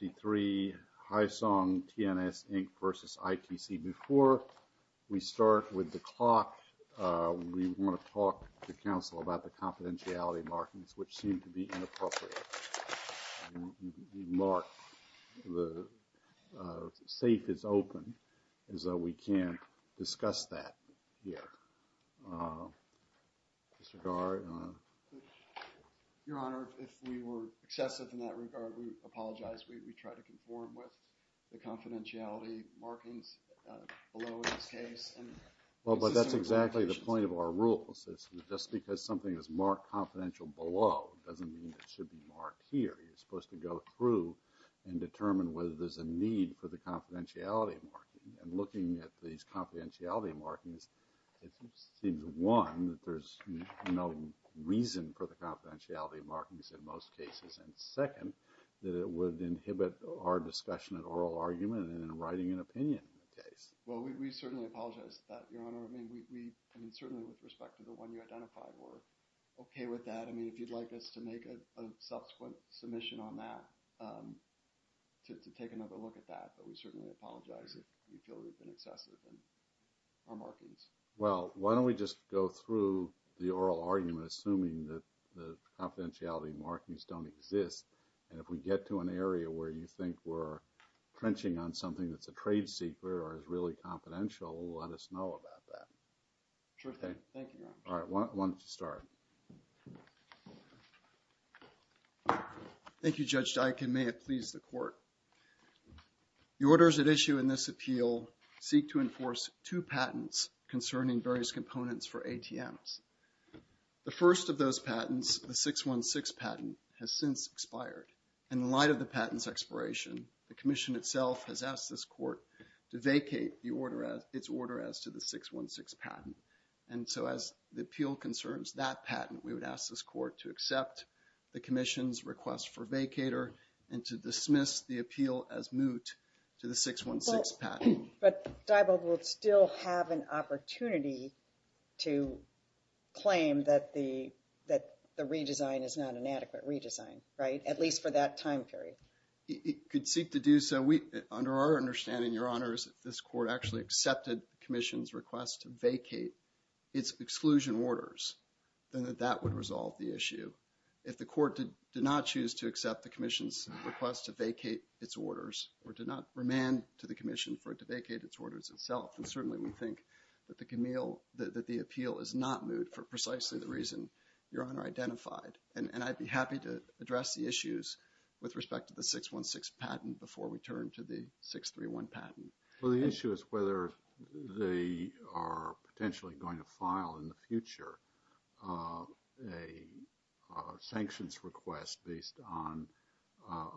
Before we start with the clock, we want to talk to Council about the confidentiality markings, which seem to be inappropriate. We mark the safe as open, as though we can't discuss that here. Mr. Gard? Your Honor, if we were excessive in that regard, we apologize. We try to conform with the confidentiality markings below in this case. Well, but that's exactly the point of our rules. Just because something is marked confidential below doesn't mean it should be marked here. You're supposed to go through and determine whether there's a need for the confidentiality marking. And looking at these confidentiality markings, it seems, one, that there's no reason for the confidentiality markings in most cases, and second, that it would inhibit our discussion of oral argument and writing an opinion in the case. Well, we certainly apologize for that, Your Honor. I mean, we, I mean, certainly with respect to the one you identified, we're okay with that. I mean, if you'd like us to make a subsequent submission on that, to take another look at that, but we certainly apologize if we feel we've been excessive in our markings. Well, why don't we just go through the oral argument, assuming that the confidentiality markings don't exist, and if we get to an area where you think we're crunching on something that's a trade secret or is really confidential, let us know about that. Sure thing. Thank you, Your Honor. All right, why don't you start? Thank you, Judge Dike, and may it please the Court. The orders at issue in this appeal seek to enforce two patents concerning various components for ATMs. The first of those patents, the 616 patent, has since expired. In light of the patent's expiration, the Commission itself has asked this Court to vacate its order as to the 616 patent. And so, as the appeal concerns that patent, we would ask this Court to accept the Commission's request for vacator and to dismiss the appeal as moot to the 616 patent. But Diebold would still have an opportunity to claim that the redesign is not an adequate redesign, right? At least for that time period. It could seek to do so. Under our understanding, Your Honor, is that this Court actually accepted the Commission's request to vacate its exclusion orders, and that that would resolve the issue. If the Court did not choose to accept the Commission's request to vacate its orders, or did not remand to the Commission for it to vacate its orders itself, then certainly we think that the appeal is not moot for precisely the reason Your Honor identified. And I'd be happy to address the issues with respect to the 616 patent before we turn to the 631 patent. Well, the issue is whether they are potentially going to file in the future a sanctions request based on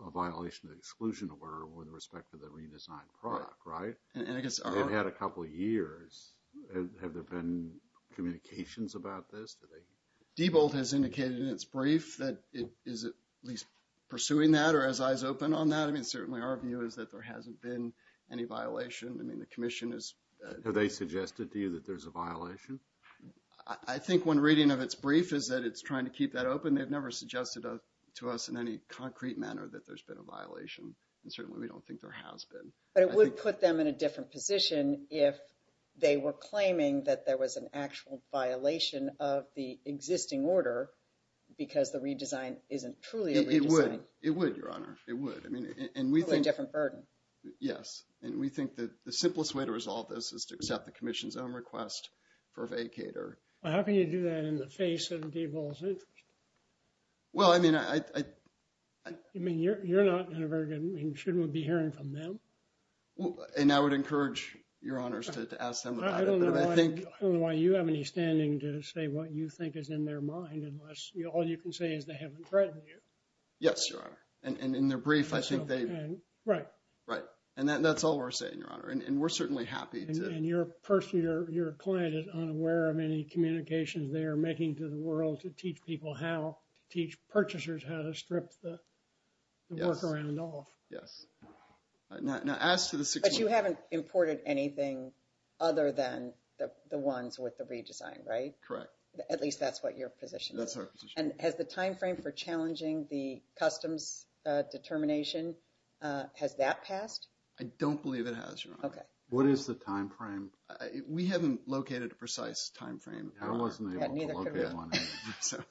a violation of the exclusion order with respect to the redesigned product, right? It had a couple of years. Have there been communications about this? Diebold has indicated in its brief that it is at least pursuing that or has eyes open on that. I mean, certainly our view is that there hasn't been any violation. I mean, the Commission is... Have they suggested to you that there's a violation? I think one reading of its brief is that it's trying to keep that open. They've never suggested to us in any concrete manner that there's been a violation, and certainly we don't think there has been. But it would put them in a different position if they were claiming that there was an actual violation of the existing order because the redesign isn't truly a redesign. It would. It would, Your Honor. It would. And we think... Probably a different burden. Yes. And we think that the simplest way to resolve this is to accept the Commission's own request for a vacater. How can you do that in the face of Diebold's interest? Well, I mean, I... I mean, you're not in a very good... I mean, shouldn't we be hearing from them? And I would encourage Your Honors to ask them about it, but I think... I don't know why you have any standing to say what you think is in their mind unless all you can say is they haven't threatened you. Yes, Your Honor. And in their brief, I think they... Right. Right. And that's all we're saying, Your Honor. And we're certainly happy to... And you're personally... Your client is unaware of any communications they are making to the world to teach people how... To teach purchasers how to strip the workaround off. Yes. Yes. Now, as to the... But you haven't imported anything other than the ones with the redesign, right? Correct. At least that's what your position is. That's our position. And has the timeframe for challenging the customs determination, has that passed? I don't believe it has, Your Honor. Okay. What is the timeframe? We haven't located a precise timeframe. I wasn't able to locate one either. So...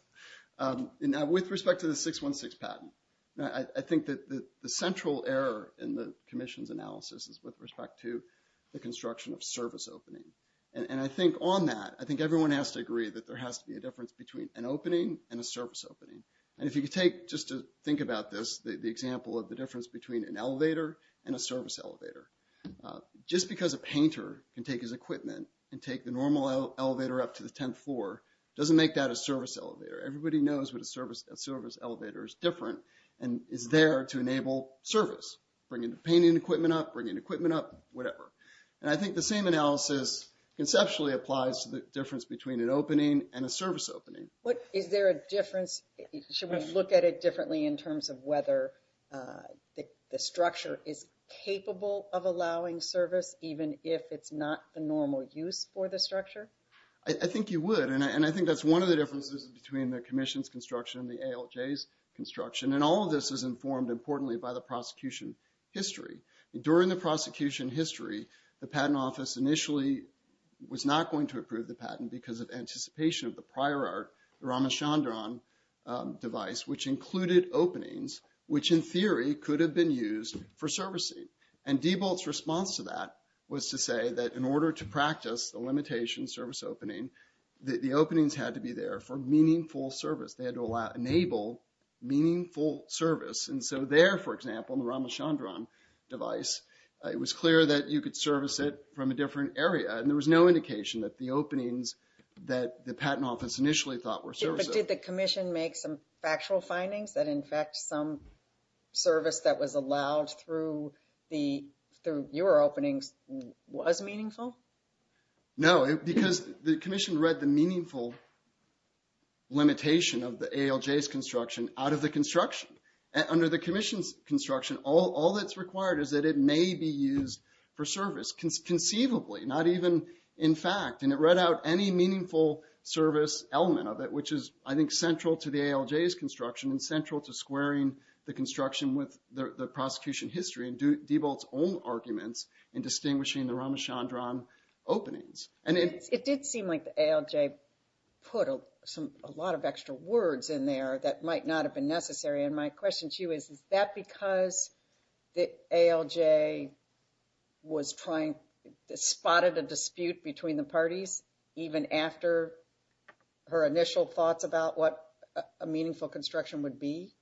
Now, with respect to the 616 patent, I think that the central error in the commission's analysis is with respect to the construction of service opening. between an opening and a service opening. And if you could take, just to think about this, the example of the difference between an elevator and a service elevator. Just because a painter can take his equipment and take the normal elevator up to the 10th floor, doesn't make that a service elevator. Everybody knows what a service elevator is different and is there to enable service. Bringing the painting equipment up, bringing equipment up, whatever. Is there a difference? Should we look at it differently in terms of whether the structure is capable of allowing service even if it's not the normal use for the structure? I think you would. And I think that's one of the differences between the commission's construction and the ALJ's construction. And all of this is informed, importantly, by the prosecution history. During the prosecution history, the patent office initially was not going to approve the patent because of anticipation of the prior art, the Ramachandran device, which included openings, which in theory could have been used for servicing. And Diebold's response to that was to say that in order to practice the limitation service opening, the openings had to be there for meaningful service. They had to enable meaningful service. And so there, for example, in the Ramachandran device, it was clear that you could service it from a different area. And there was no indication that the openings that the patent office initially thought were servicing. But did the commission make some factual findings that, in fact, some service that was allowed through your openings was meaningful? No, because the commission read the meaningful limitation of the ALJ's construction out of the construction. Under the commission's construction, all that's required is that it may be used for service conceivably, not even in fact. And it read out any meaningful service element of it, which is, I think, central to the ALJ's construction and central to squaring the construction with the prosecution history and Diebold's own arguments in distinguishing the Ramachandran openings. It did seem like the ALJ put a lot of extra words in there that might not have been necessary. And my question to you is, is that because the ALJ was trying, spotted a dispute between the parties even after her initial thoughts about what a meaningful construction would be?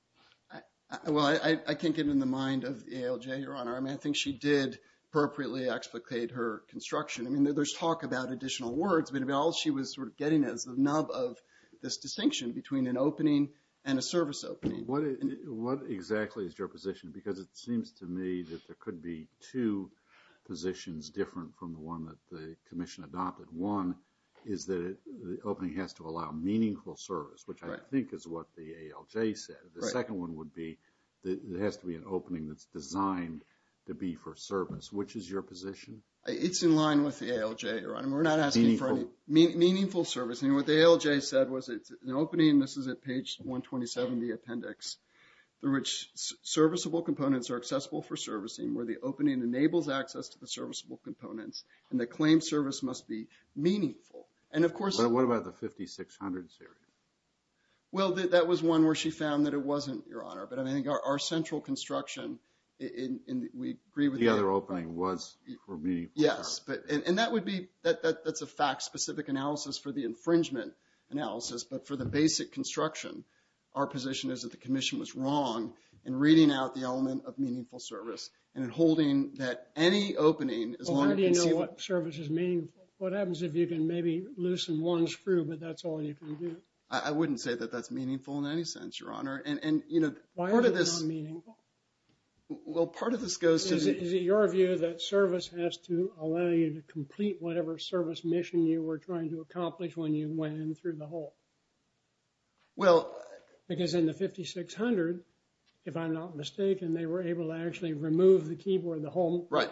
Well, I can't get it in the mind of the ALJ, Your Honor. I mean, I think she did appropriately explicate her construction. I mean, there's talk about additional words. But all she was sort of getting is the nub of this distinction between an opening and a service opening. What exactly is your position? Because it seems to me that there could be two positions different from the one that the commission adopted. One is that the opening has to allow meaningful service, which I think is what the ALJ said. The second one would be that it has to be an opening that's designed to be for service. Which is your position? It's in line with the ALJ, Your Honor. We're not asking for any meaningful service. What the ALJ said was it's an opening, this is at page 127 in the appendix, through which serviceable components are accessible for servicing, where the opening enables access to the serviceable components, and the claimed service must be meaningful. And of course... What about the 5600 series? Well, that was one where she found that it wasn't, Your Honor. But I think our central construction, we agree with... The other opening was for meaningful service. Yes. And that would be... That's a fact-specific analysis for the infringement analysis, but for the basic construction, our position is that the commission was wrong in reading out the element of meaningful service and in holding that any opening... Well, how do you know what service is meaningful? What happens if you can maybe loosen one screw, but that's all you can do? I wouldn't say that that's meaningful in any sense, Your Honor. And part of this... Why are they not meaningful? Well, part of this goes to... Is it your view that service has to allow you to complete whatever service mission you were trying to accomplish when you went in through the hole? Well... Because in the 5600, if I'm not mistaken, they were able to actually remove the keyboard, the whole... Right.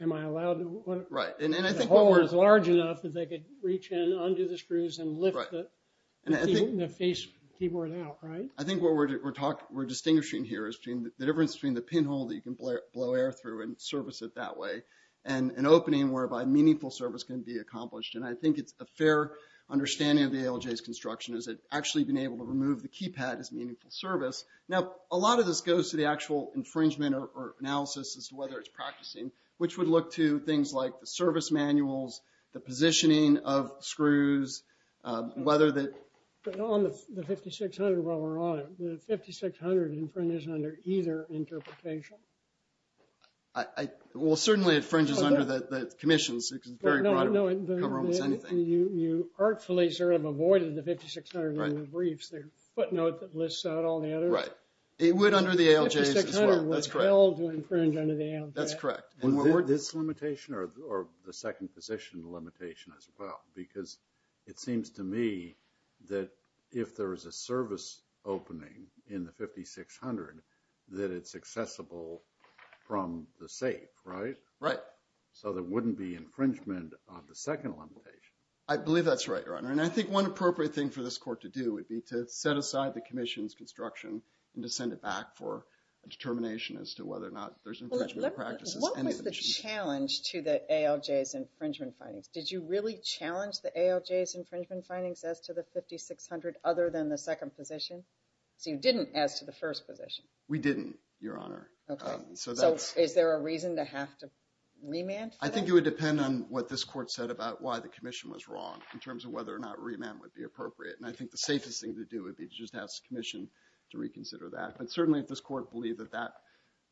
Am I allowed to... Right. And I think... The hole was large enough that they could reach in under the screws and lift the keyboard out, right? I think what we're distinguishing here is the difference between the pinhole that you can blow air through and service it that way and an opening whereby meaningful service can be accomplished. And I think it's a fair understanding of the ALJ's construction is that actually being able to remove the keypad is meaningful service. Now, a lot of this goes to the actual infringement or analysis as to whether it's practicing, which would look to things like the service manuals, the positioning of screws, whether that... The 5600 infringes under either interpretation. I... Well, certainly, it infringes under the commissions. It's very broad. It can cover almost anything. You artfully sort of avoided the 5600 in the briefs, the footnote that lists out all the others. Right. It would under the ALJ's as well. That's correct. The 5600 was held to infringe under the ALJ. That's correct. And were this a limitation or the second position limitation as well? Because it seems to me that if there is a service opening in the 5600, that it's accessible from the safe, right? Right. So there wouldn't be infringement on the second limitation. I believe that's right, Your Honor. And I think one appropriate thing for this court to do would be to set aside the commission's construction and to send it back for a determination as to whether or not there's infringement practices and... What was the challenge to the ALJ's infringement findings? Did you really challenge the ALJ's infringement findings as to the 5600 other than the second position? So you didn't as to the first position? We didn't, Your Honor. Okay. So that's... So is there a reason to have to remand for that? I think it would depend on what this court said about why the commission was wrong in terms of whether or not remand would be appropriate. And I think the safest thing to do would be to just ask the commission to reconsider that. But certainly if this court believed that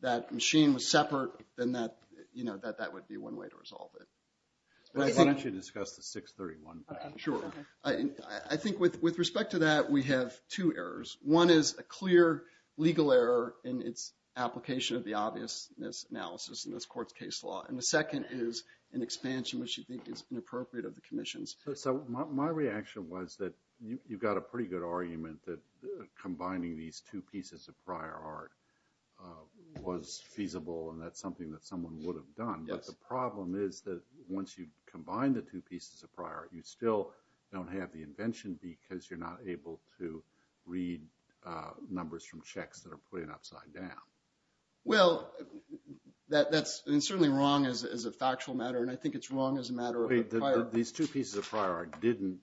that machine was separate, then that would be one way to resolve it. Why don't you discuss the 631? Sure. I think with respect to that, we have two errors. One is a clear legal error in its application of the obviousness analysis in this court's case law. And the second is an expansion which you think is inappropriate of the commission's. So my reaction was that you got a pretty good argument that combining these two pieces of prior art was feasible and that's something that someone would have done. Yes. But the problem is that once you combine the two pieces of prior art, you still don't have the invention because you're not able to read numbers from checks that are put in upside down. Well, that's certainly wrong as a factual matter and I think it's wrong as a matter of prior art. These two pieces of prior art didn't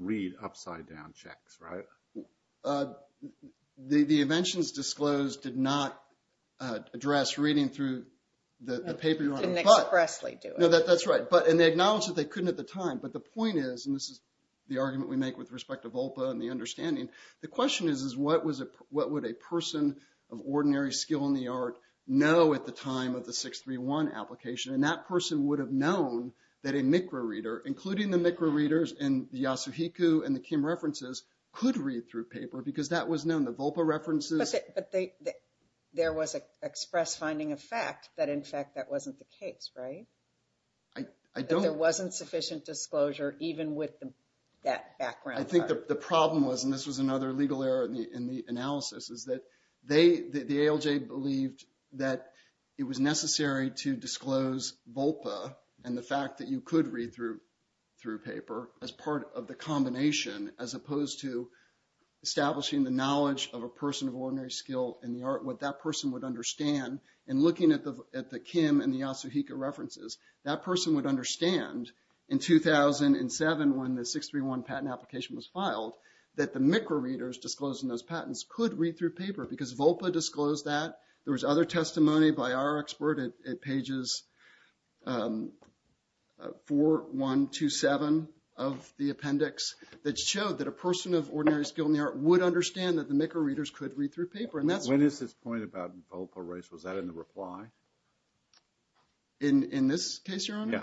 read upside down checks, right? The inventions disclosed did not address reading through the paper. Didn't expressly do it. No, that's right. And they acknowledged that they couldn't at the time. But the point is, and this is the argument we make with respect to Volpa and the understanding, the question is what would a person of ordinary skill in the art know at the time of the 631 application? And that person would have known that a Micra reader, including the Micra readers in the that was known. The Volpa references... But there was an express finding of fact that in fact that wasn't the case, right? I don't... That there wasn't sufficient disclosure even with that background. I think the problem was, and this was another legal error in the analysis, is that the ALJ believed that it was necessary to disclose Volpa and the fact that you could read through paper as part of the combination as opposed to establishing the knowledge of a person of ordinary skill in the art, what that person would understand. And looking at the Kim and the Yasuhika references, that person would understand in 2007 when the 631 patent application was filed, that the Micra readers disclosing those patents could read through paper because Volpa disclosed that. There was other testimony by our expert at pages 4, 1, 2, 7 of the appendix that showed that a person of ordinary skill in the art would understand that the Micra readers could read through paper. And that's... When is this point about Volpa rights? Was that in the reply? In this case, Your Honor?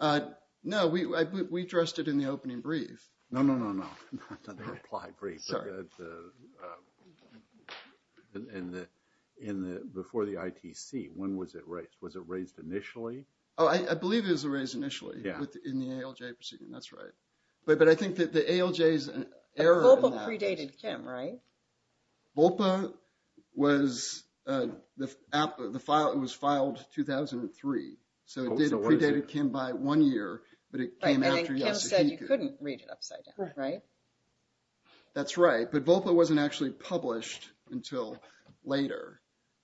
Yeah. No, we addressed it in the opening brief. No, no, no, no. Not the reply brief. Sorry. In the... Before the ITC, when was it raised? Was it raised initially? Oh, I believe it was raised initially. Yeah. In the ALJ proceeding. That's right. But I think that the ALJ is an error in that. Volpa predated Kim, right? Volpa was... So it did predate Kim by one year, but it came after Yasuhika. Right. And then Kim said you couldn't read it upside down, right? That's right. But Volpa wasn't actually published until later.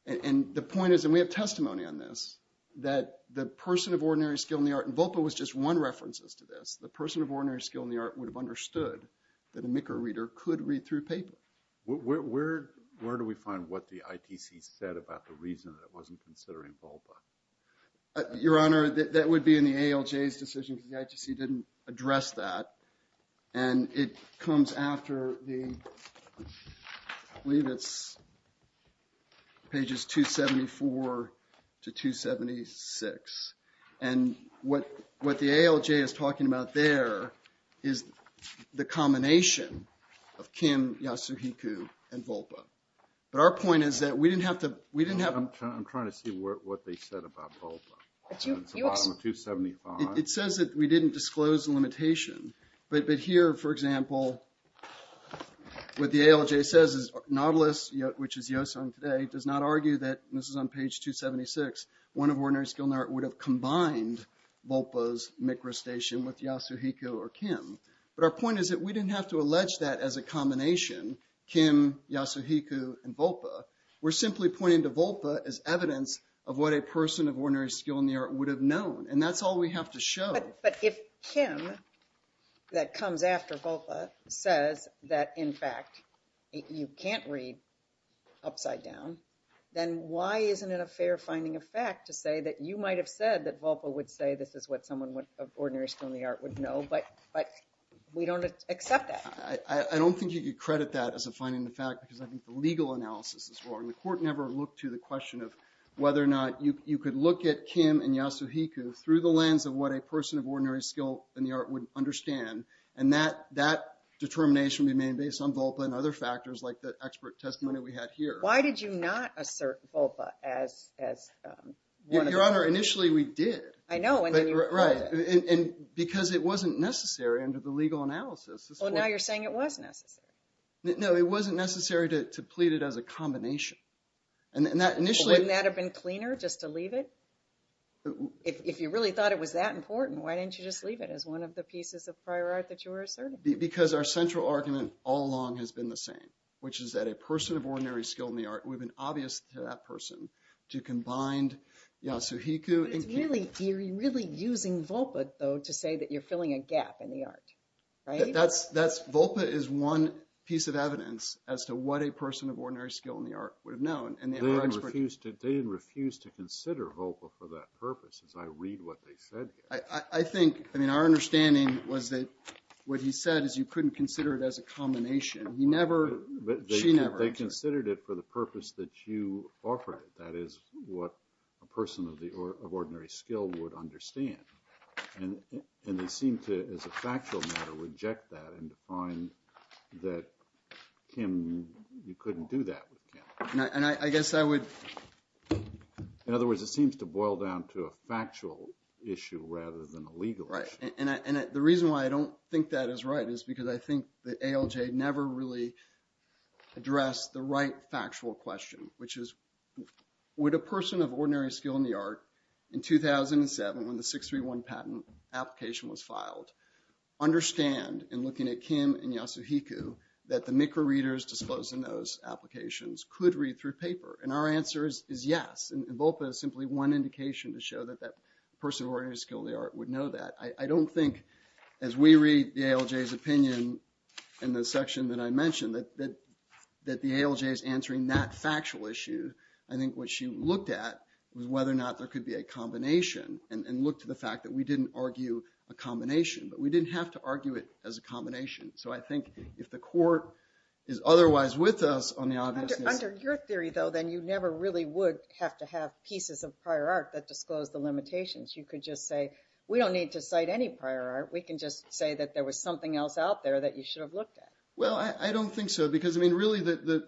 And the point is, and we have testimony on this, that the person of ordinary skill in the art... And Volpa was just one reference to this. The person of ordinary skill in the art would have understood that a Micra reader could read through paper. Where do we find what the ITC said about the reason that it wasn't considering Volpa? Your Honor, that would be in the ALJ's decision because the ITC didn't address that. And it comes after the... I believe it's pages 274 to 276. And what the ALJ is talking about there is the combination of Kim, Yasuhika, and Volpa. But our point is that we didn't have to... I'm trying to see what they said about Volpa. It's the bottom of 275. It says that we didn't disclose the limitation. But here, for example, what the ALJ says is Nautilus, which is Yoson today, does not argue that, and this is on page 276, one of ordinary skill in the art would have combined Volpa's Micra station with Yasuhika or Kim. But our point is that we didn't have to allege that as a combination, Kim, Yasuhika, and Volpa. We're simply pointing to Volpa as evidence of what a person of ordinary skill in the art would have known. And that's all we have to show. But if Kim, that comes after Volpa, says that, in fact, you can't read upside down, then why isn't it a fair finding of fact to say that you might have said that Volpa would say this is what someone of ordinary skill in the art would know, but we don't accept that? I don't think you could credit that as a finding of fact because I think the legal analysis is wrong. The court never looked to the question of whether or not you could look at Kim and Yasuhika through the lens of what a person of ordinary skill in the art would understand, and that determination remained based on Volpa and other factors like the expert testimony we had here. Why did you not assert Volpa as one of the… Your Honor, initially we did. I know, and then you… Right. And because it wasn't necessary under the legal analysis. Well, now you're saying it was necessary. No, it wasn't necessary to plead it as a combination. And that initially… Wouldn't that have been cleaner just to leave it? If you really thought it was that important, why didn't you just leave it as one of the pieces of prior art that you were asserting? Because our central argument all along has been the same, which is that a person of ordinary skill in the art would have been obvious to that person to combine Yasuhika and Kim. You're really using Volpa, though, to say that you're filling a gap in the art, right? That's… Volpa is one piece of evidence as to what a person of ordinary skill in the art would have known, and the other experts… They didn't refuse to consider Volpa for that purpose, as I read what they said here. I think… I mean, our understanding was that what he said is you couldn't consider it as a combination. He never… She never answered. They considered it for the purpose that you offered it, that is, what a person of ordinary skill would understand. And they seem to, as a factual matter, reject that and define that Kim… You couldn't do that with Kim. And I guess I would… In other words, it seems to boil down to a factual issue rather than a legal issue. Right. And the reason why I don't think that is right is because I think the ALJ never really addressed the right factual question, which is, would a person of ordinary skill in the art in 2007, when the 631 patent application was filed, understand in looking at Kim and Yasuhiko that the MICRA readers disclosed in those applications could read through paper? And our answer is yes. And Volpa is simply one indication to show that that person of ordinary skill in the art would know that. I don't think, as we read the ALJ's opinion in the section that I mentioned, that the ALJ is answering that factual issue. I think what she looked at was whether or not there could be a combination and looked to the fact that we didn't argue a combination, but we didn't have to argue it as a combination. So I think if the court is otherwise with us on the obviousness… Under your theory, though, then you never really would have to have pieces of prior art that disclosed the limitations. You could just say, we don't need to cite any prior art. We can just say that there was something else out there that you should have looked at. Well, I don't think so. Because, I mean, really the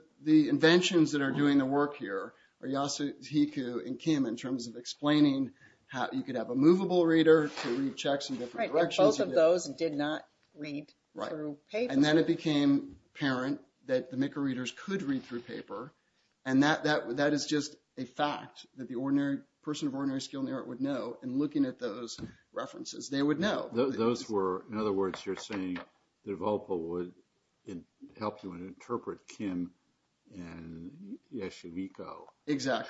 inventions that are doing the work here are Yasuhiko and Kim in terms of explaining how you could have a movable reader to read checks in different directions. Right. And both of those did not read through paper. Right. And then it became apparent that the MICRA readers could read through paper. And that is just a fact that the person of ordinary skill in the art would know. And looking at those references, they would know. Those were… In other words, you're saying that Volpe would help you interpret Kim and Yasuhiko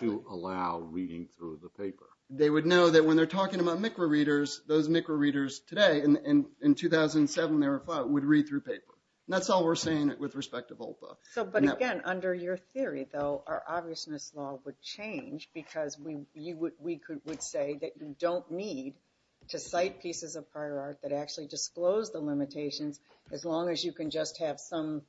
to allow reading through the paper. Exactly. They would know that when they're talking about MICRA readers, those MICRA readers today in 2007, they would read through paper. That's all we're saying with respect to Volpe. So, but again, under your theory, though, our obviousness law would change because we would say that you don't need to cite pieces of prior art that actually disclose the limitations as long as you can just have some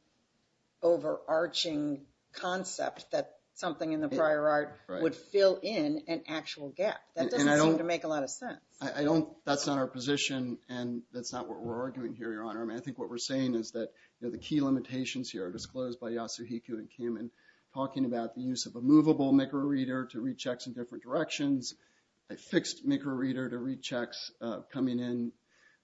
overarching concept that something in the prior art would fill in an actual gap. That doesn't seem to make a lot of sense. I don't… That's not our position and that's not what we're arguing here, Your Honor. I mean, I think what we're saying is that the key limitations here are disclosed by Yasuhiko and Kim in talking about the use of a movable MICRA reader to read checks in different directions, a fixed MICRA reader to read checks coming in.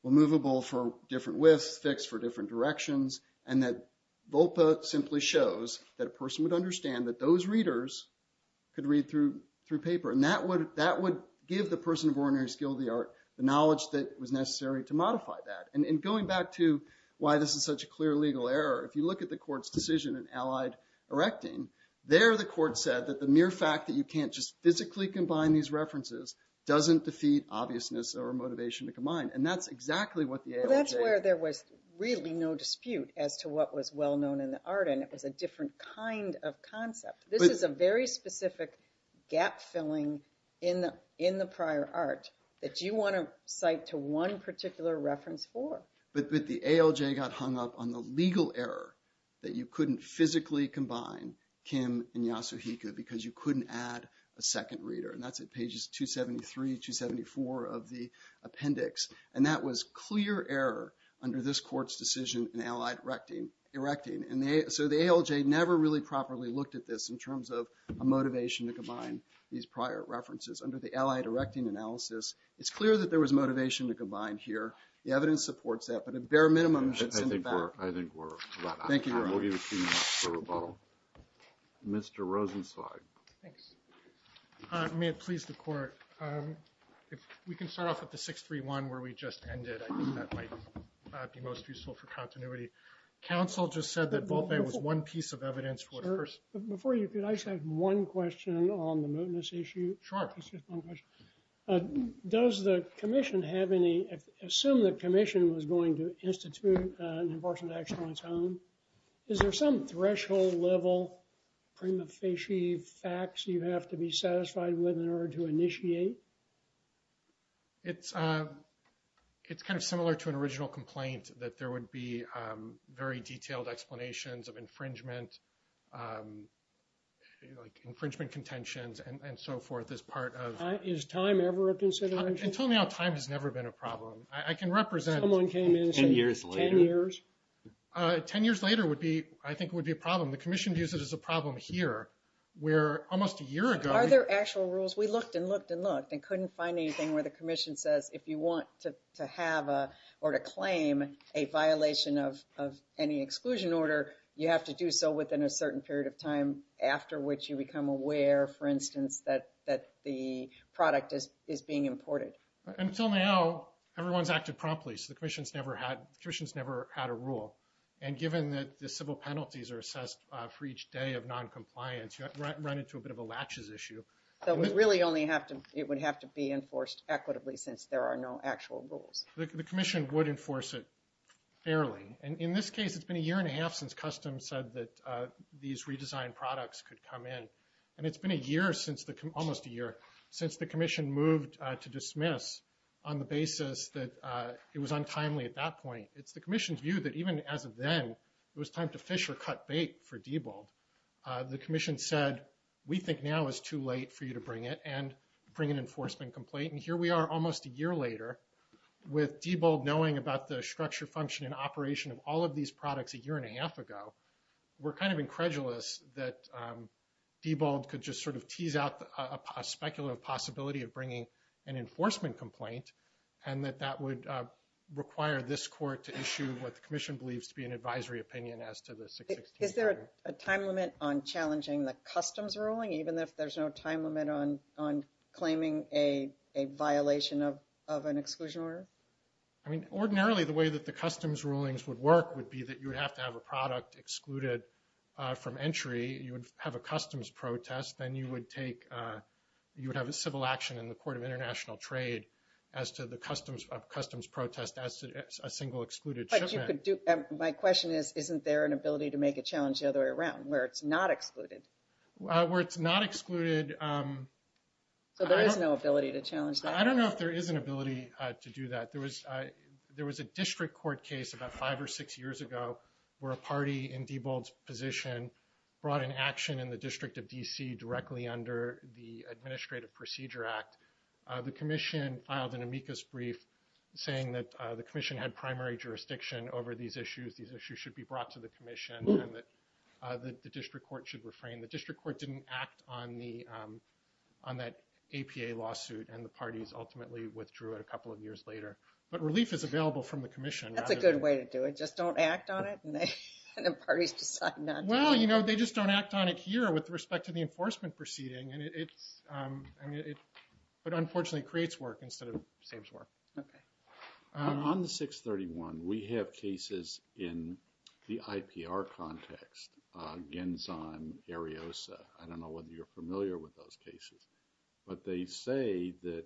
Well, movable for different widths, fixed for different directions, and that Volpe simply shows that a person would understand that those readers could read through paper. And that would give the person of ordinary skill of the art the knowledge that was necessary to modify that. And going back to why this is such a clear legal error, if you look at the court's decision in Allied Erecting, there the court said that the mere fact that you can't just physically combine these references doesn't defeat obviousness or motivation to combine. And that's exactly what the ALJ… Well, that's where there was really no dispute as to what was well known in the art and it was a different kind of concept. This is a very specific gap filling in the prior art that you want to cite to one particular reference for. But the ALJ got hung up on the legal error that you couldn't physically combine Kim and Yasuhiko because you couldn't add a second reader. And that's at pages 273, 274 of the appendix. And that was clear error under this court's decision in Allied Erecting. And so the ALJ never really properly looked at this in terms of a motivation to combine these prior references. Under the Allied Erecting analysis, it's clear that there was motivation to combine here. The evidence supports that. But a bare minimum should send it back. I think we're about out of time. Thank you, Your Honor. We'll give you two minutes for rebuttal. Mr. Rosenzweig. Thanks. May it please the court. If we can start off at the 631 where we just ended, I think that might be most useful for continuity. Counsel just said that Volpe was one piece of evidence for the first… Sir, before you, could I just have one question on the mootness issue? Sure. Does the commission have any…assume the commission was going to institute an enforcement action on its own, is there some threshold level prima facie facts you have to be satisfied with in order to initiate? It's kind of similar to an original complaint that there would be very detailed explanations of infringement, like infringement contentions and so forth as part of… Is time ever a consideration? Until now, time has never been a problem. I can represent… Someone came in and said… Ten years later. Ten years? Ten years later would be, I think, would be a problem. The commission views it as a problem here where almost a year ago… Are there actual rules? We looked and looked and looked and couldn't find anything where the commission says if you want to have or to claim a violation of any exclusion order, you have to do so within a certain period of time after which you become aware, for instance, that the product is being imported. Until now, everyone's acted promptly, so the commission's never had a rule. And given that the civil penalties are assessed for each day of noncompliance, you run into a bit of a latches issue. So we really only have to… It would have to be enforced equitably since there are no actual rules. The commission would enforce it fairly. And in this case, it's been a year and a half since customs said that these redesigned products could come in. And it's been a year since the… Almost a year since the commission moved to dismiss on the basis that it was untimely at that point. It's the commission's view that even as of then, it was time to fish or cut bait for too late for you to bring it and bring an enforcement complaint. And here we are almost a year later with Diebold knowing about the structure, function, and operation of all of these products a year and a half ago. We're kind of incredulous that Diebold could just sort of tease out a speculative possibility of bringing an enforcement complaint and that that would require this court to issue what the commission believes to be an advisory opinion as to the 616. Is there a time limit on challenging the customs ruling, even if there's no time limit on claiming a violation of an exclusion order? I mean, ordinarily, the way that the customs rulings would work would be that you would have to have a product excluded from entry. You would have a customs protest. Then you would take… You would have a civil action in the Court of International Trade as to the customs protest as to a single excluded shipment. My question is, isn't there an ability to make a challenge the other way around where it's not excluded? Where it's not excluded… So there is no ability to challenge that. I don't know if there is an ability to do that. There was a district court case about five or six years ago where a party in Diebold's position brought an action in the District of D.C. directly under the Administrative Procedure Act. The commission filed an amicus brief saying that the commission had primary jurisdiction over these issues. These issues should be brought to the commission and that the district court should refrain. The district court didn't act on that APA lawsuit and the parties ultimately withdrew it a couple of years later. But relief is available from the commission. That's a good way to do it. Just don't act on it and the parties decide not to. Well, you know, they just don't act on it here with respect to the enforcement proceeding. But unfortunately, it creates work instead of saves work. Okay. On the 631, we have cases in the IPR context. Gensan, Ariosa. I don't know whether you're familiar with those cases. But they say that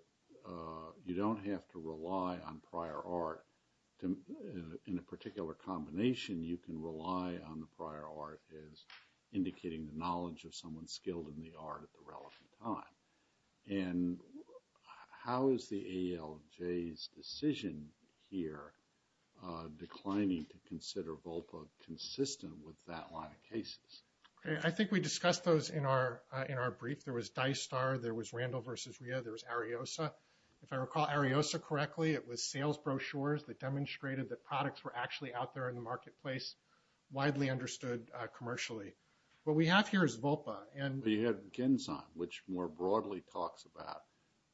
you don't have to rely on prior art. In a particular combination, you can rely on the prior art as indicating the knowledge of someone skilled in the art at the relevant time. And how is the ALJ's decision here declining to consider Volpa consistent with that line of cases? Okay. I think we discussed those in our brief. There was Dicestar. There was Randall v. Rhea. There was Ariosa. If I recall Ariosa correctly, it was sales brochures that demonstrated that products were actually out there in the marketplace, widely understood commercially. What we have here is Volpa. But you have Gensan, which more broadly talks about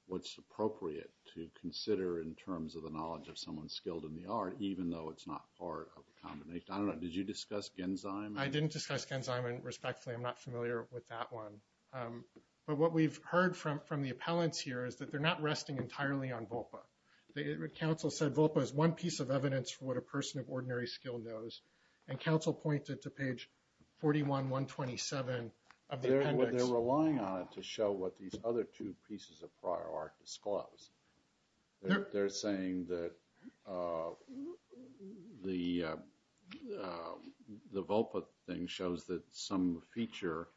what's appropriate to consider in terms of the knowledge of someone skilled in the art, even though it's not part of a combination. I don't know. Did you discuss Gensan? I didn't discuss Gensan, and respectfully, I'm not familiar with that one. But what we've heard from the appellants here is that they're not resting entirely on Volpa. The council said Volpa is one piece of evidence for what a person of ordinary skill knows. And council pointed to page 41-127 of the appendix. They're relying on it to show what these other two pieces of prior art disclose. They're saying that the Volpa thing shows that some feature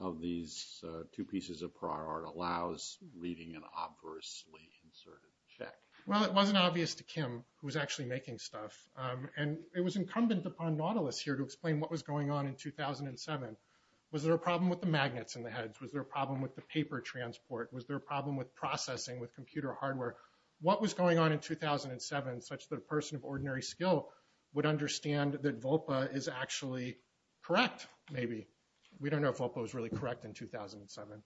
of these two pieces of prior art allows reading an obversely inserted check. Well, it wasn't obvious to Kim, who was actually making stuff. And it was incumbent upon Nautilus here to explain what was going on in 2007. Was there a problem with the magnets in the heads? Was there a problem with the paper transport? Was there a problem with processing with computer hardware? What was going on in 2007 such that a person of ordinary skill would understand that Volpa is actually correct, maybe? We don't know if Volpa was really correct in 2007.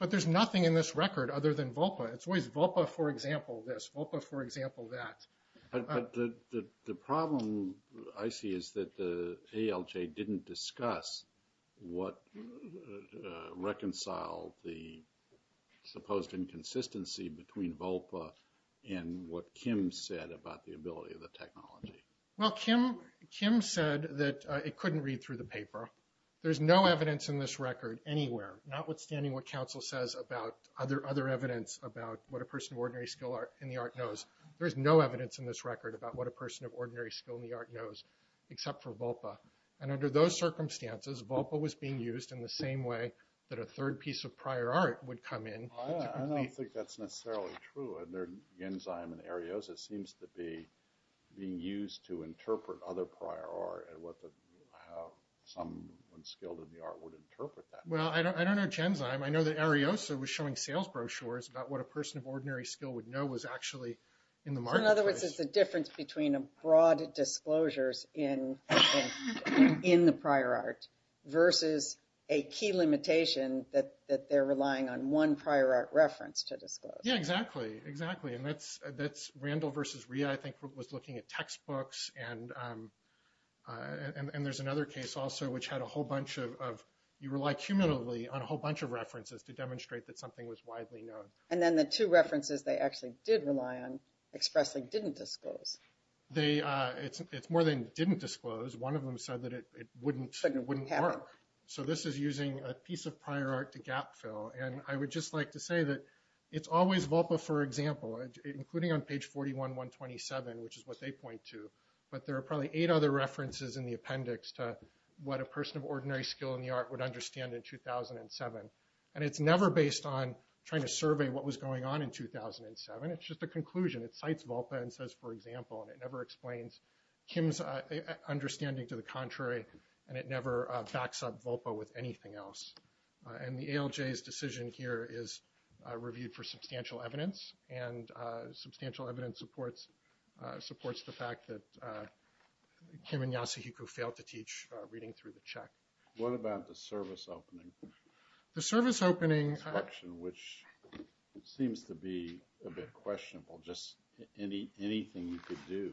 But there's nothing in this record other than Volpa. It's always Volpa, for example, this. But the problem I see is that the ALJ didn't discuss what reconciled the supposed inconsistency between Volpa and what Kim said about the ability of the technology. Well, Kim said that it couldn't read through the paper. There's no evidence in this record anywhere, notwithstanding what council says about other evidence about what a person of ordinary skill in the art knows. There's no evidence in this record about what a person of ordinary skill in the art knows, except for Volpa. And under those circumstances, Volpa was being used in the same way that a third piece of prior art would come in. I don't think that's necessarily true. And their Genzyme and Ariosa seems to be being used to interpret other prior art, and how someone skilled in the art would interpret that. Well, I don't know Genzyme. I know that Ariosa was showing sales brochures about what a person of ordinary skill would know was actually in the marketplace. In other words, it's the difference between a broad disclosures in the prior art versus a key limitation that they're relying on one prior art reference to disclose. Yeah, exactly. Exactly. And that's Randall versus Rhea, I think, was looking at textbooks. And there's another case also which had a whole bunch of, you rely cumulatively on a whole bunch of references to demonstrate that something was widely known. And then the two references they actually did rely on expressly didn't disclose. It's more than didn't disclose. One of them said that it wouldn't work. So this is using a piece of prior art to gap fill. And I would just like to say that it's always Volpa, for example, including on page 41-127, which is what they point to, but there are probably eight other references in the appendix to what a person of ordinary skill in the art would understand in 2007. And it's never based on trying to survey what was going on in 2007. It's just a conclusion. It cites Volpa and says, for example, and it never explains Kim's understanding to the contrary, and it never backs up Volpa with anything else. And the ALJ's decision here is reviewed for substantial evidence, and substantial evidence supports the fact that Kim and Yasuhiko failed to teach reading through the check. What about the service opening? The service opening. Which seems to be a bit questionable, just anything you could do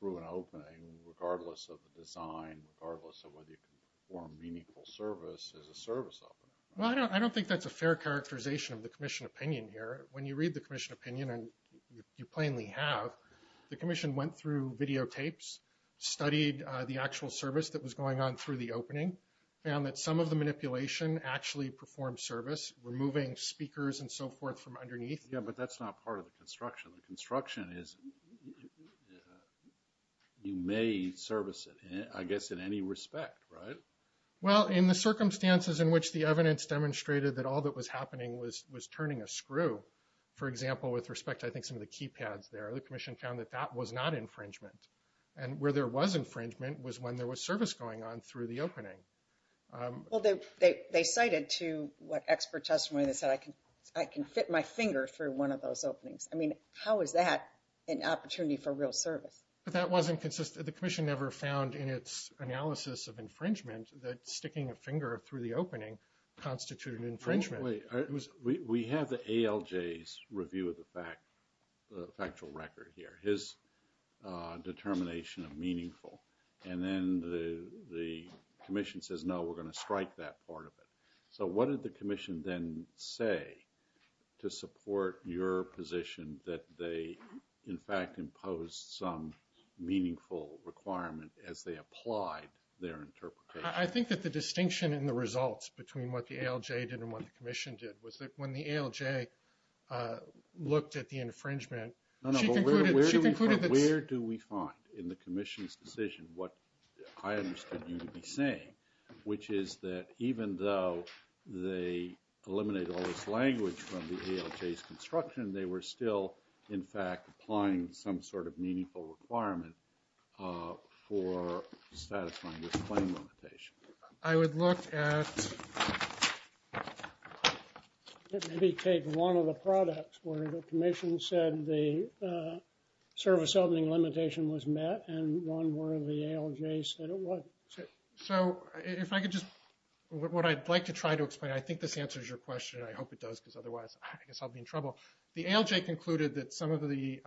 through an opening, regardless of the design, regardless of whether you can perform meaningful service as a service opener. Well, I don't think that's a fair characterization of the commission opinion here. When you read the commission opinion, and you plainly have, the commission went through videotapes, studied the actual service that was going on through the opening, found that some of the manipulation actually performed service, removing speakers and so forth from underneath. Yeah, but that's not part of the construction. The construction is, you may service it, I guess, in any respect, right? Well, in the circumstances in which the evidence demonstrated that all that was happening was turning a screw, for example, with respect to, I think, some of the keypads there, the infringement. And where there was infringement was when there was service going on through the opening. Well, they cited to what expert testimony that said, I can fit my finger through one of those openings. I mean, how is that an opportunity for real service? But that wasn't consistent. The commission never found in its analysis of infringement that sticking a finger through the opening constituted infringement. We have the ALJ's review of the factual record here, his determination of meaningful. And then the commission says, no, we're going to strike that part of it. So what did the commission then say to support your position that they, in fact, imposed some meaningful requirement as they applied their interpretation? I think that the distinction in the results between what the ALJ did and what the commission did was that when the ALJ looked at the infringement, she concluded that... No, no. Where do we find, in the commission's decision, what I understood you to be saying, which is that even though they eliminated all this language from the ALJ's construction, they were still, in fact, applying some sort of meaningful requirement for satisfying this claim limitation? I would look at... Maybe take one of the products where the commission said the service opening limitation was met and one where the ALJ said it wasn't. So if I could just... What I'd like to try to explain, I think this answers your question. I hope it does because otherwise I guess I'll be in trouble. The ALJ concluded that some of the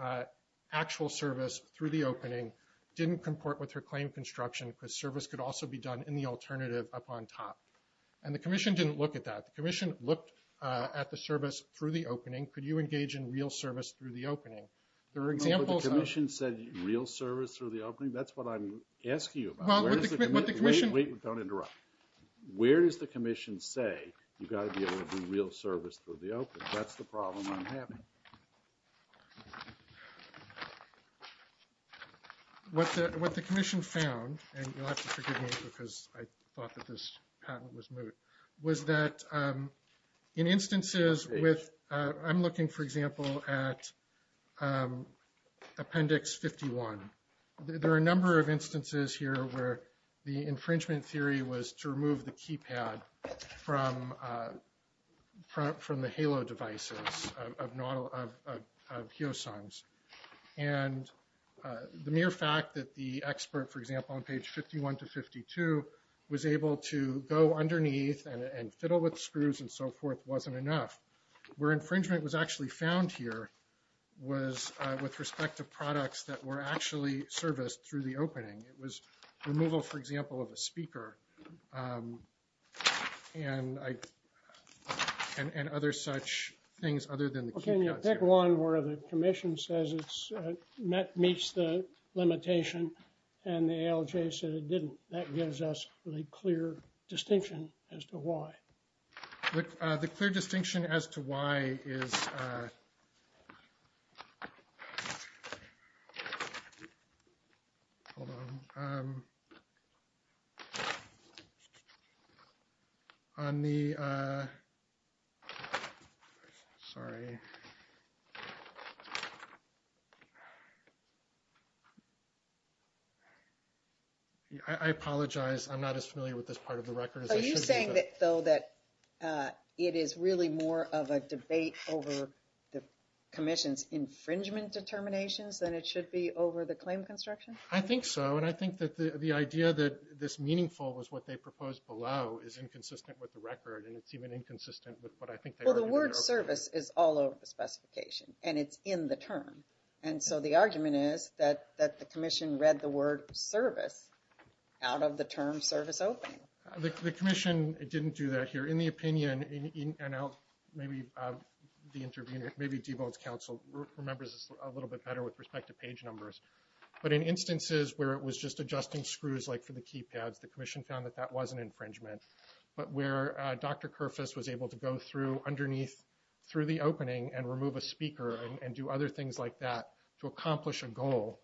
actual service through the opening didn't comport with her claim construction because service could also be done in the alternative up on top. And the commission didn't look at that. The commission looked at the service through the opening. Could you engage in real service through the opening? There are examples of... No, but the commission said real service through the opening. That's what I'm asking you about. Well, but the commission... Wait, wait. Don't interrupt. Where does the commission say you've got to be able to do real service through the opening? That's the problem I'm having. What the commission found, and you'll have to forgive me because I thought that this patent was moot, was that in instances with... I'm looking, for example, at appendix 51. There are a number of instances here where the infringement theory was to remove the devices of Heosungs. And the mere fact that the expert, for example, on page 51 to 52, was able to go underneath and fiddle with screws and so forth wasn't enough. Where infringement was actually found here was with respect to products that were actually serviced through the opening. It was removal, for example, of a speaker and other such things other than the... Well, can you pick one where the commission says it meets the limitation and the ALJ said it didn't? That gives us a clear distinction as to why. The clear distinction as to why is... Hold on. On the... Sorry. I apologize. I'm not as familiar with this part of the record as I should be. Do you think, though, that it is really more of a debate over the commission's infringement determinations than it should be over the claim construction? I think so. And I think that the idea that this meaningful was what they proposed below is inconsistent with the record. And it's even inconsistent with what I think they... Well, the word service is all over the specification. And it's in the term. And so the argument is that the commission read the word service out of the term service opening. The commission didn't do that here. In the opinion, and I'll maybe... The intervener, maybe Deval's counsel, remembers this a little bit better with respect to page numbers. But in instances where it was just adjusting screws, like for the keypads, the commission found that that wasn't infringement. But where Dr. Kerfess was able to go through underneath, through the opening and remove a speaker and do other things like that to accomplish a goal,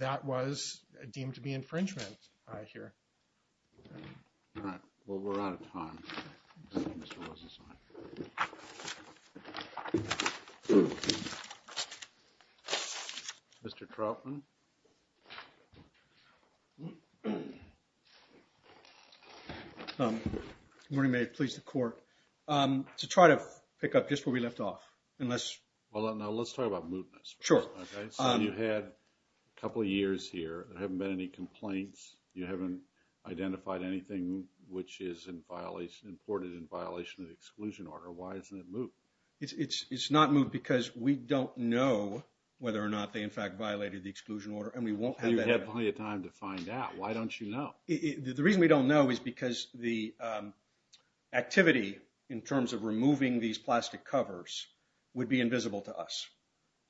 that was deemed to be infringement here. All right. Well, we're out of time. Mr. Trautman? Good morning. May it please the court. To try to pick up just where we left off, unless... Hold on. Now, let's talk about mootness. Sure. Okay. So you had a couple of years here. There haven't been any complaints. You haven't identified anything which is imported in violation of the exclusion order. Why isn't it moot? It's not moot because we don't know whether or not they, in fact, violated the exclusion order. And we won't have that... You had plenty of time to find out. Why don't you know? The reason we don't know is because the activity, in terms of removing these plastic covers, would be invisible to us.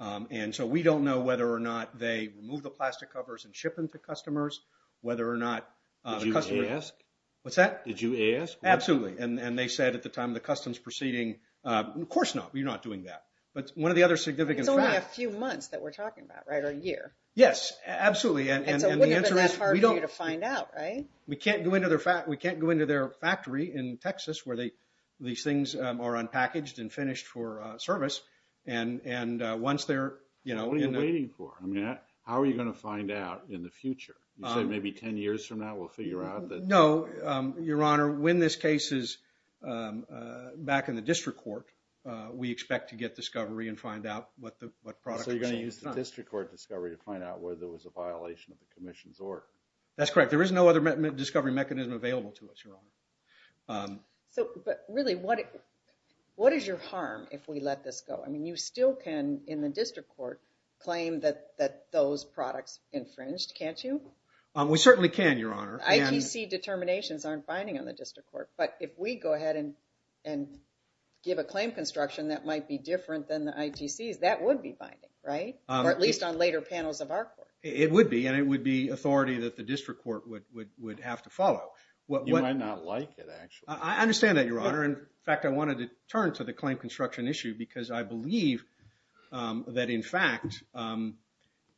And so we don't know whether or not they remove the plastic covers and ship them to customers, whether or not customers... Did you ask? What's that? Did you ask? Absolutely. And they said at the time of the customs proceeding, of course not. We're not doing that. But one of the other significant facts... It's only a few months that we're talking about, right? Or a year? Yes. Absolutely. And the answer is... And so it wouldn't have been that hard for you to find out, right? We can't go into their factory in Texas where these things are unpackaged and finished for And once they're... What are you waiting for? I mean, how are you going to find out in the future? You said maybe 10 years from now we'll figure out that... No. Your Honor, when this case is back in the district court, we expect to get discovery and find out what product... So you're going to use the district court discovery to find out where there was a violation of the commission's order. That's correct. There is no other discovery mechanism available to us, Your Honor. But really, what is your harm if we let this go? I mean, you still can, in the district court, claim that those products infringed, can't you? We certainly can, Your Honor. ITC determinations aren't binding on the district court. But if we go ahead and give a claim construction that might be different than the ITCs, that would be binding, right? Or at least on later panels of our court. It would be. And it would be authority that the district court would have to follow. You might not like it, actually. I understand that, Your Honor. In fact, I wanted to turn to the claim construction issue because I believe that, in fact,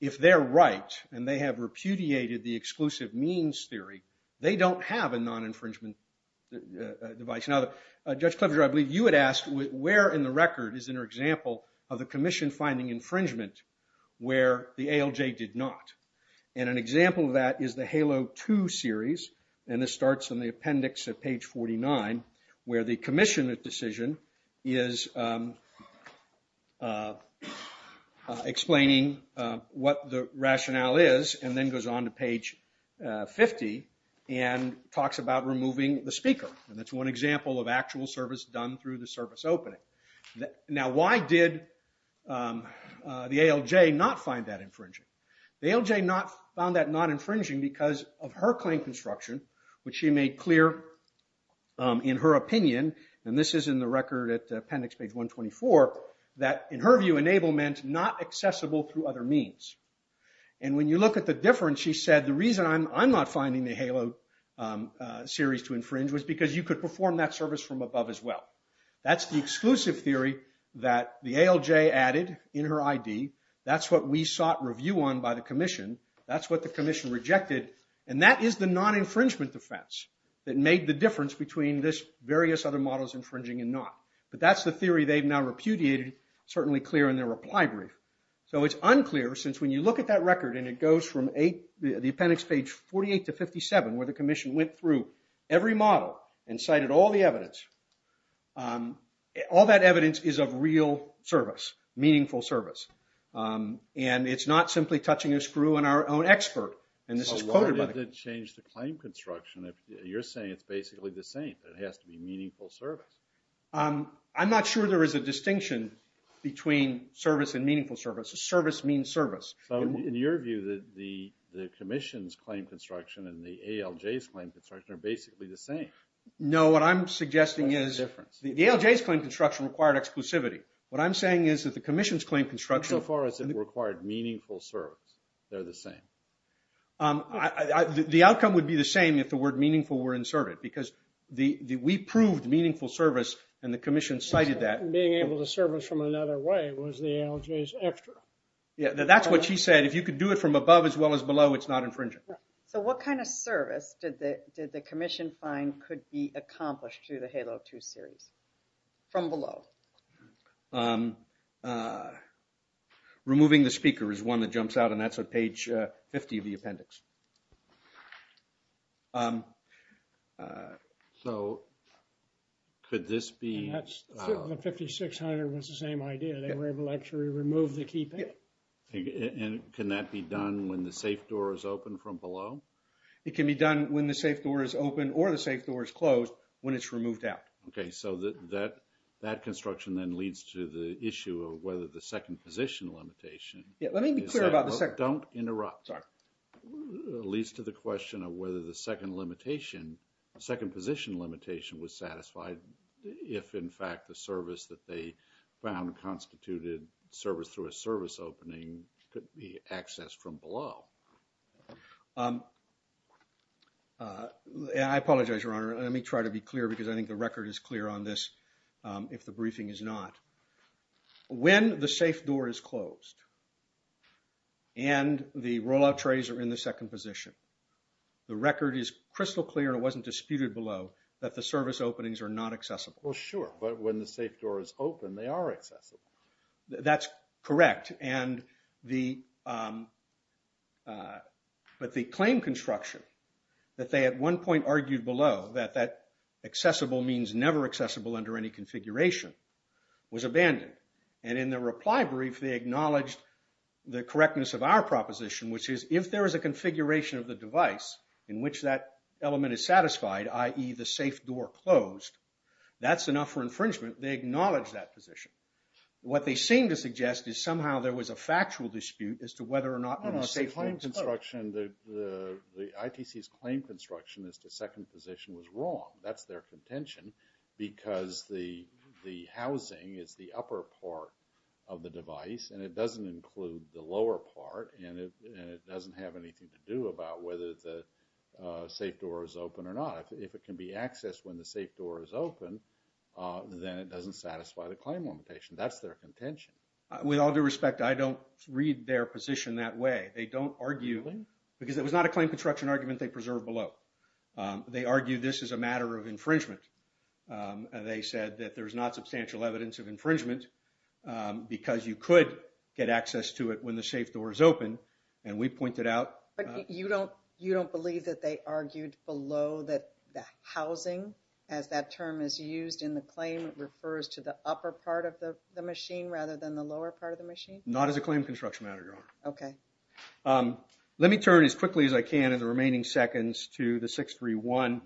if they're right and they have repudiated the exclusive means theory, they don't have a non-infringement device. Now, Judge Klobuchar, I believe you had asked where in the record is an example of the commission finding infringement where the ALJ did not. And an example of that is the Halo 2 series. And this starts in the appendix at page 49 where the commission decision is explaining what the rationale is and then goes on to page 50 and talks about removing the speaker. And that's one example of actual service done through the service opening. Now, why did the ALJ not find that infringing? The ALJ found that not infringing because of her claim construction, which she made clear in her opinion, and this is in the record at appendix page 124, that, in her view, enablement not accessible through other means. And when you look at the difference, she said the reason I'm not finding the Halo series to infringe was because you could perform that service from above as well. That's the exclusive theory that the ALJ added in her ID. That's what we sought review on by the commission. That's what the commission rejected. And that is the non-infringement defense that made the difference between this various other models infringing and not. But that's the theory they've now repudiated, certainly clear in their reply brief. So it's unclear since when you look at that record and it goes from the appendix page 48 to 57, where the commission went through every model and cited all the evidence, all that evidence is of real service, meaningful service. And it's not simply touching a screw on our own expert. And this is quoted. So why did it change the claim construction? You're saying it's basically the same. It has to be meaningful service. I'm not sure there is a distinction between service and meaningful service. Service means service. So in your view, the commission's claim construction and the ALJ's claim construction are basically the same. No, what I'm suggesting is the ALJ's claim construction required exclusivity. What I'm saying is that the commission's claim construction. So far as it required meaningful service, they're the same. The outcome would be the same if the word meaningful were inserted. Because we proved meaningful service and the commission cited that. Being able to service from another way was the ALJ's extra. That's what she said. If you could do it from above as well as below, it's not infringing. So what kind of service did the commission find could be accomplished through the HALO 2 series? From below. Removing the speaker is one that jumps out and that's on page 50 of the appendix. So could this be... The 5600 was the same idea. They were able to actually remove the keypad. Can that be done when the safe door is open from below? It can be done when the safe door is open or the safe door is closed when it's removed out. Okay, so that construction then leads to the issue of whether the second position limitation... Let me be clear about the second... Don't interrupt. Sorry. Leads to the question of whether the second limitation... Second position limitation was satisfied if in fact the service that they found constituted service through a service opening could be accessed from below. I apologize, Your Honor. Let me try to be clear because I think the record is clear on this if the briefing is not. When the safe door is closed and the rollout trays are in the second position, the record is crystal clear and it wasn't disputed below that the service openings are not accessible. Well, sure. But when the safe door is open, they are accessible. That's correct. But the claim construction that they at one point argued below that accessible means never accessible under any configuration was abandoned. And in the reply brief, they acknowledged the correctness of our proposition, which is if there is a configuration of the device in which that element is satisfied, i.e. the safe door closed, that's enough for infringement. They acknowledge that position. What they seem to suggest is somehow there was a factual dispute as to whether or not... No, no. Safe home construction, the ITC's claim construction as to second position was wrong. That's their contention because the housing is the upper part of the device and it doesn't include the lower part and it doesn't have anything to do about whether the safe door is open or not. If it can be accessed when the safe door is open, then it doesn't satisfy the claim limitation. That's their contention. With all due respect, I don't read their position that way. They don't argue because it was not a claim construction argument they preserved below. They argue this is a matter of infringement. They said that there's not substantial evidence of infringement because you could get access to it when the safe door is open. And we pointed out... But you don't believe that they argued below that the housing, as that term is used in the claim, refers to the upper part of the machine rather than the lower part of the machine? Not as a claim construction matter, Your Honor. Okay. Let me turn as quickly as I can in the remaining seconds to the 631.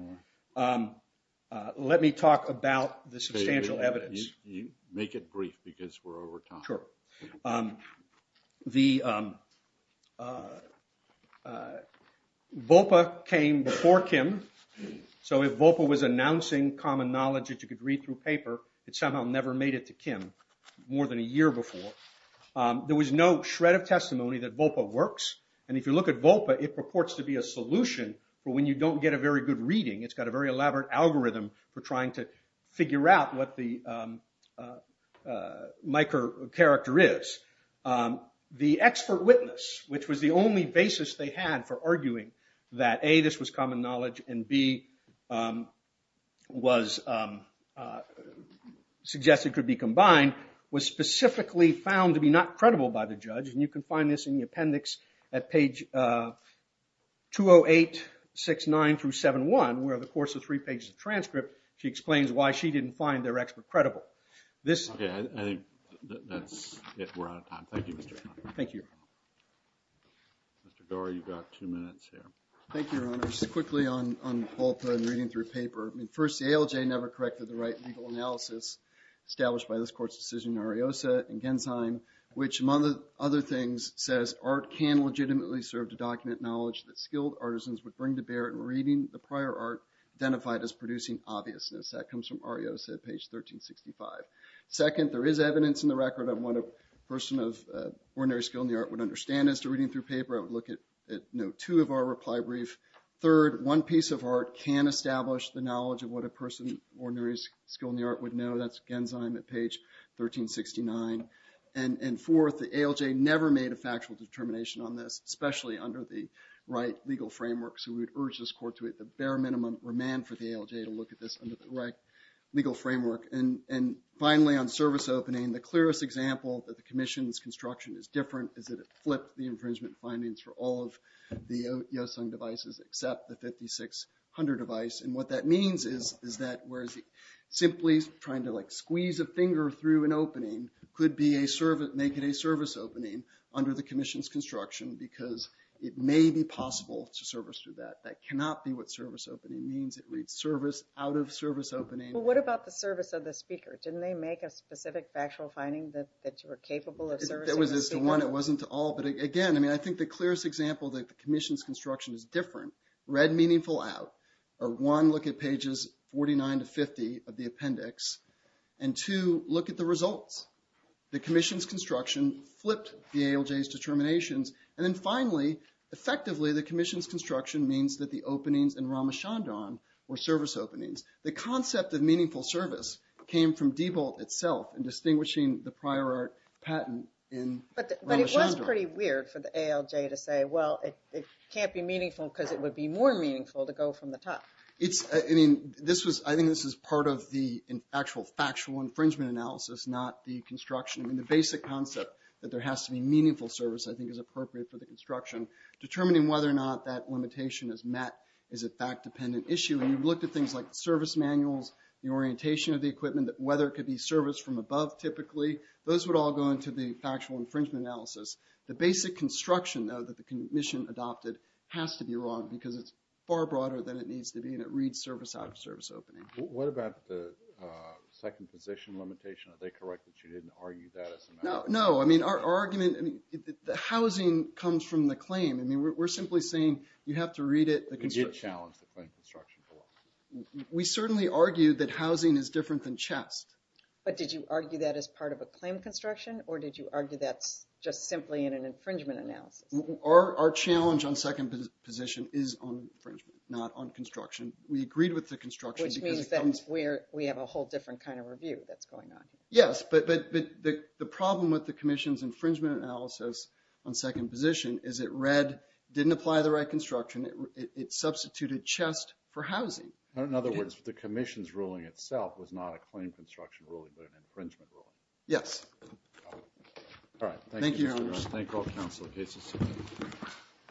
Let me talk about the substantial evidence. Make it brief because we're over time. Sure. VOPA came before Kim, so if VOPA was announcing common knowledge that you could read through paper, it somehow never made it to Kim more than a year before. There was no shred of testimony that VOPA works. And if you look at VOPA, it purports to be a solution for when you don't get a very good reading. It's got a very elaborate algorithm for trying to figure out what the microcharacter is. The expert witness, which was the only basis they had for arguing that, A, this was common knowledge, and, B, was suggested could be combined, was specifically found to be not credible by the judge. And you can find this in the appendix at page 20869-71, where over the course of three pages of transcript, she explains why she didn't find their expert credible. Okay. I think that's it. We're out of time. Thank you, Mr. Connolly. Thank you. Mr. Doar, you've got two minutes here. Thank you, Your Honor. Just quickly on VOPA and reading through paper. First, the ALJ never corrected the right legal analysis established by this court's decision in Ariosa and Gensheim, which, among other things, says art can legitimately serve to document knowledge that skilled artisans would bring to bear in reading the prior art identified as producing obviousness. That comes from Ariosa at page 1365. Second, there is evidence in the record of what a person of ordinary skill in the art would understand as to reading through paper. I would look at note two of our reply brief. Third, one piece of art can establish the knowledge of what a person of ordinary skill in the art would know. That's Gensheim at page 1369. And fourth, the ALJ never made a factual determination on this, especially under the right legal framework. So we would urge this court to, at the bare minimum, remand for the ALJ to look at this under the right legal framework. And finally, on service opening, the clearest example that the commission's construction is different is that it flipped the infringement findings for all of the Yeosung devices except the 5600 device. And what that means is that whereas simply trying to, like, squeeze a finger through an opening could make it a service opening under the commission's construction because it may be possible to service through that. That cannot be what service opening means. It reads service out of service opening. Well, what about the service of the speaker? Right, that was to one. It wasn't to all. But again, I mean, I think the clearest example that the commission's construction is different, read meaningful out. One, look at pages 49 to 50 of the appendix. And two, look at the results. The commission's construction flipped the ALJ's determinations. And then finally, effectively, the commission's construction means that the openings in Ramachandran were service openings. The concept of meaningful service came from Diebold itself in distinguishing the prior art patent in Ramachandran. But it was pretty weird for the ALJ to say, well, it can't be meaningful because it would be more meaningful to go from the top. I mean, I think this is part of the actual factual infringement analysis, not the construction. I mean, the basic concept that there has to be meaningful service, I think, is appropriate for the construction. Determining whether or not that limitation is met is a fact-dependent issue. And you've looked at things like service manuals, the orientation of the equipment, whether it could be service from above, typically. Those would all go into the factual infringement analysis. The basic construction, though, that the commission adopted has to be wrong because it's far broader than it needs to be. And it reads service out of service opening. What about the second position limitation? Are they correct that you didn't argue that as a matter of fact? No. I mean, our argument, the housing comes from the claim. I mean, we're simply saying you have to read it. We did challenge the claim construction. We certainly argued that housing is different than chest. But did you argue that as part of a claim construction? Or did you argue that's just simply in an infringement analysis? Our challenge on second position is on infringement, not on construction. We agreed with the construction. Which means that we have a whole different kind of review that's going on. Yes. But the problem with the commission's infringement analysis on second position is it didn't apply the right construction. It substituted chest for housing. In other words, the commission's ruling itself was not a claim construction ruling, but an infringement ruling. Yes. All right. Thank you. Thank all council cases.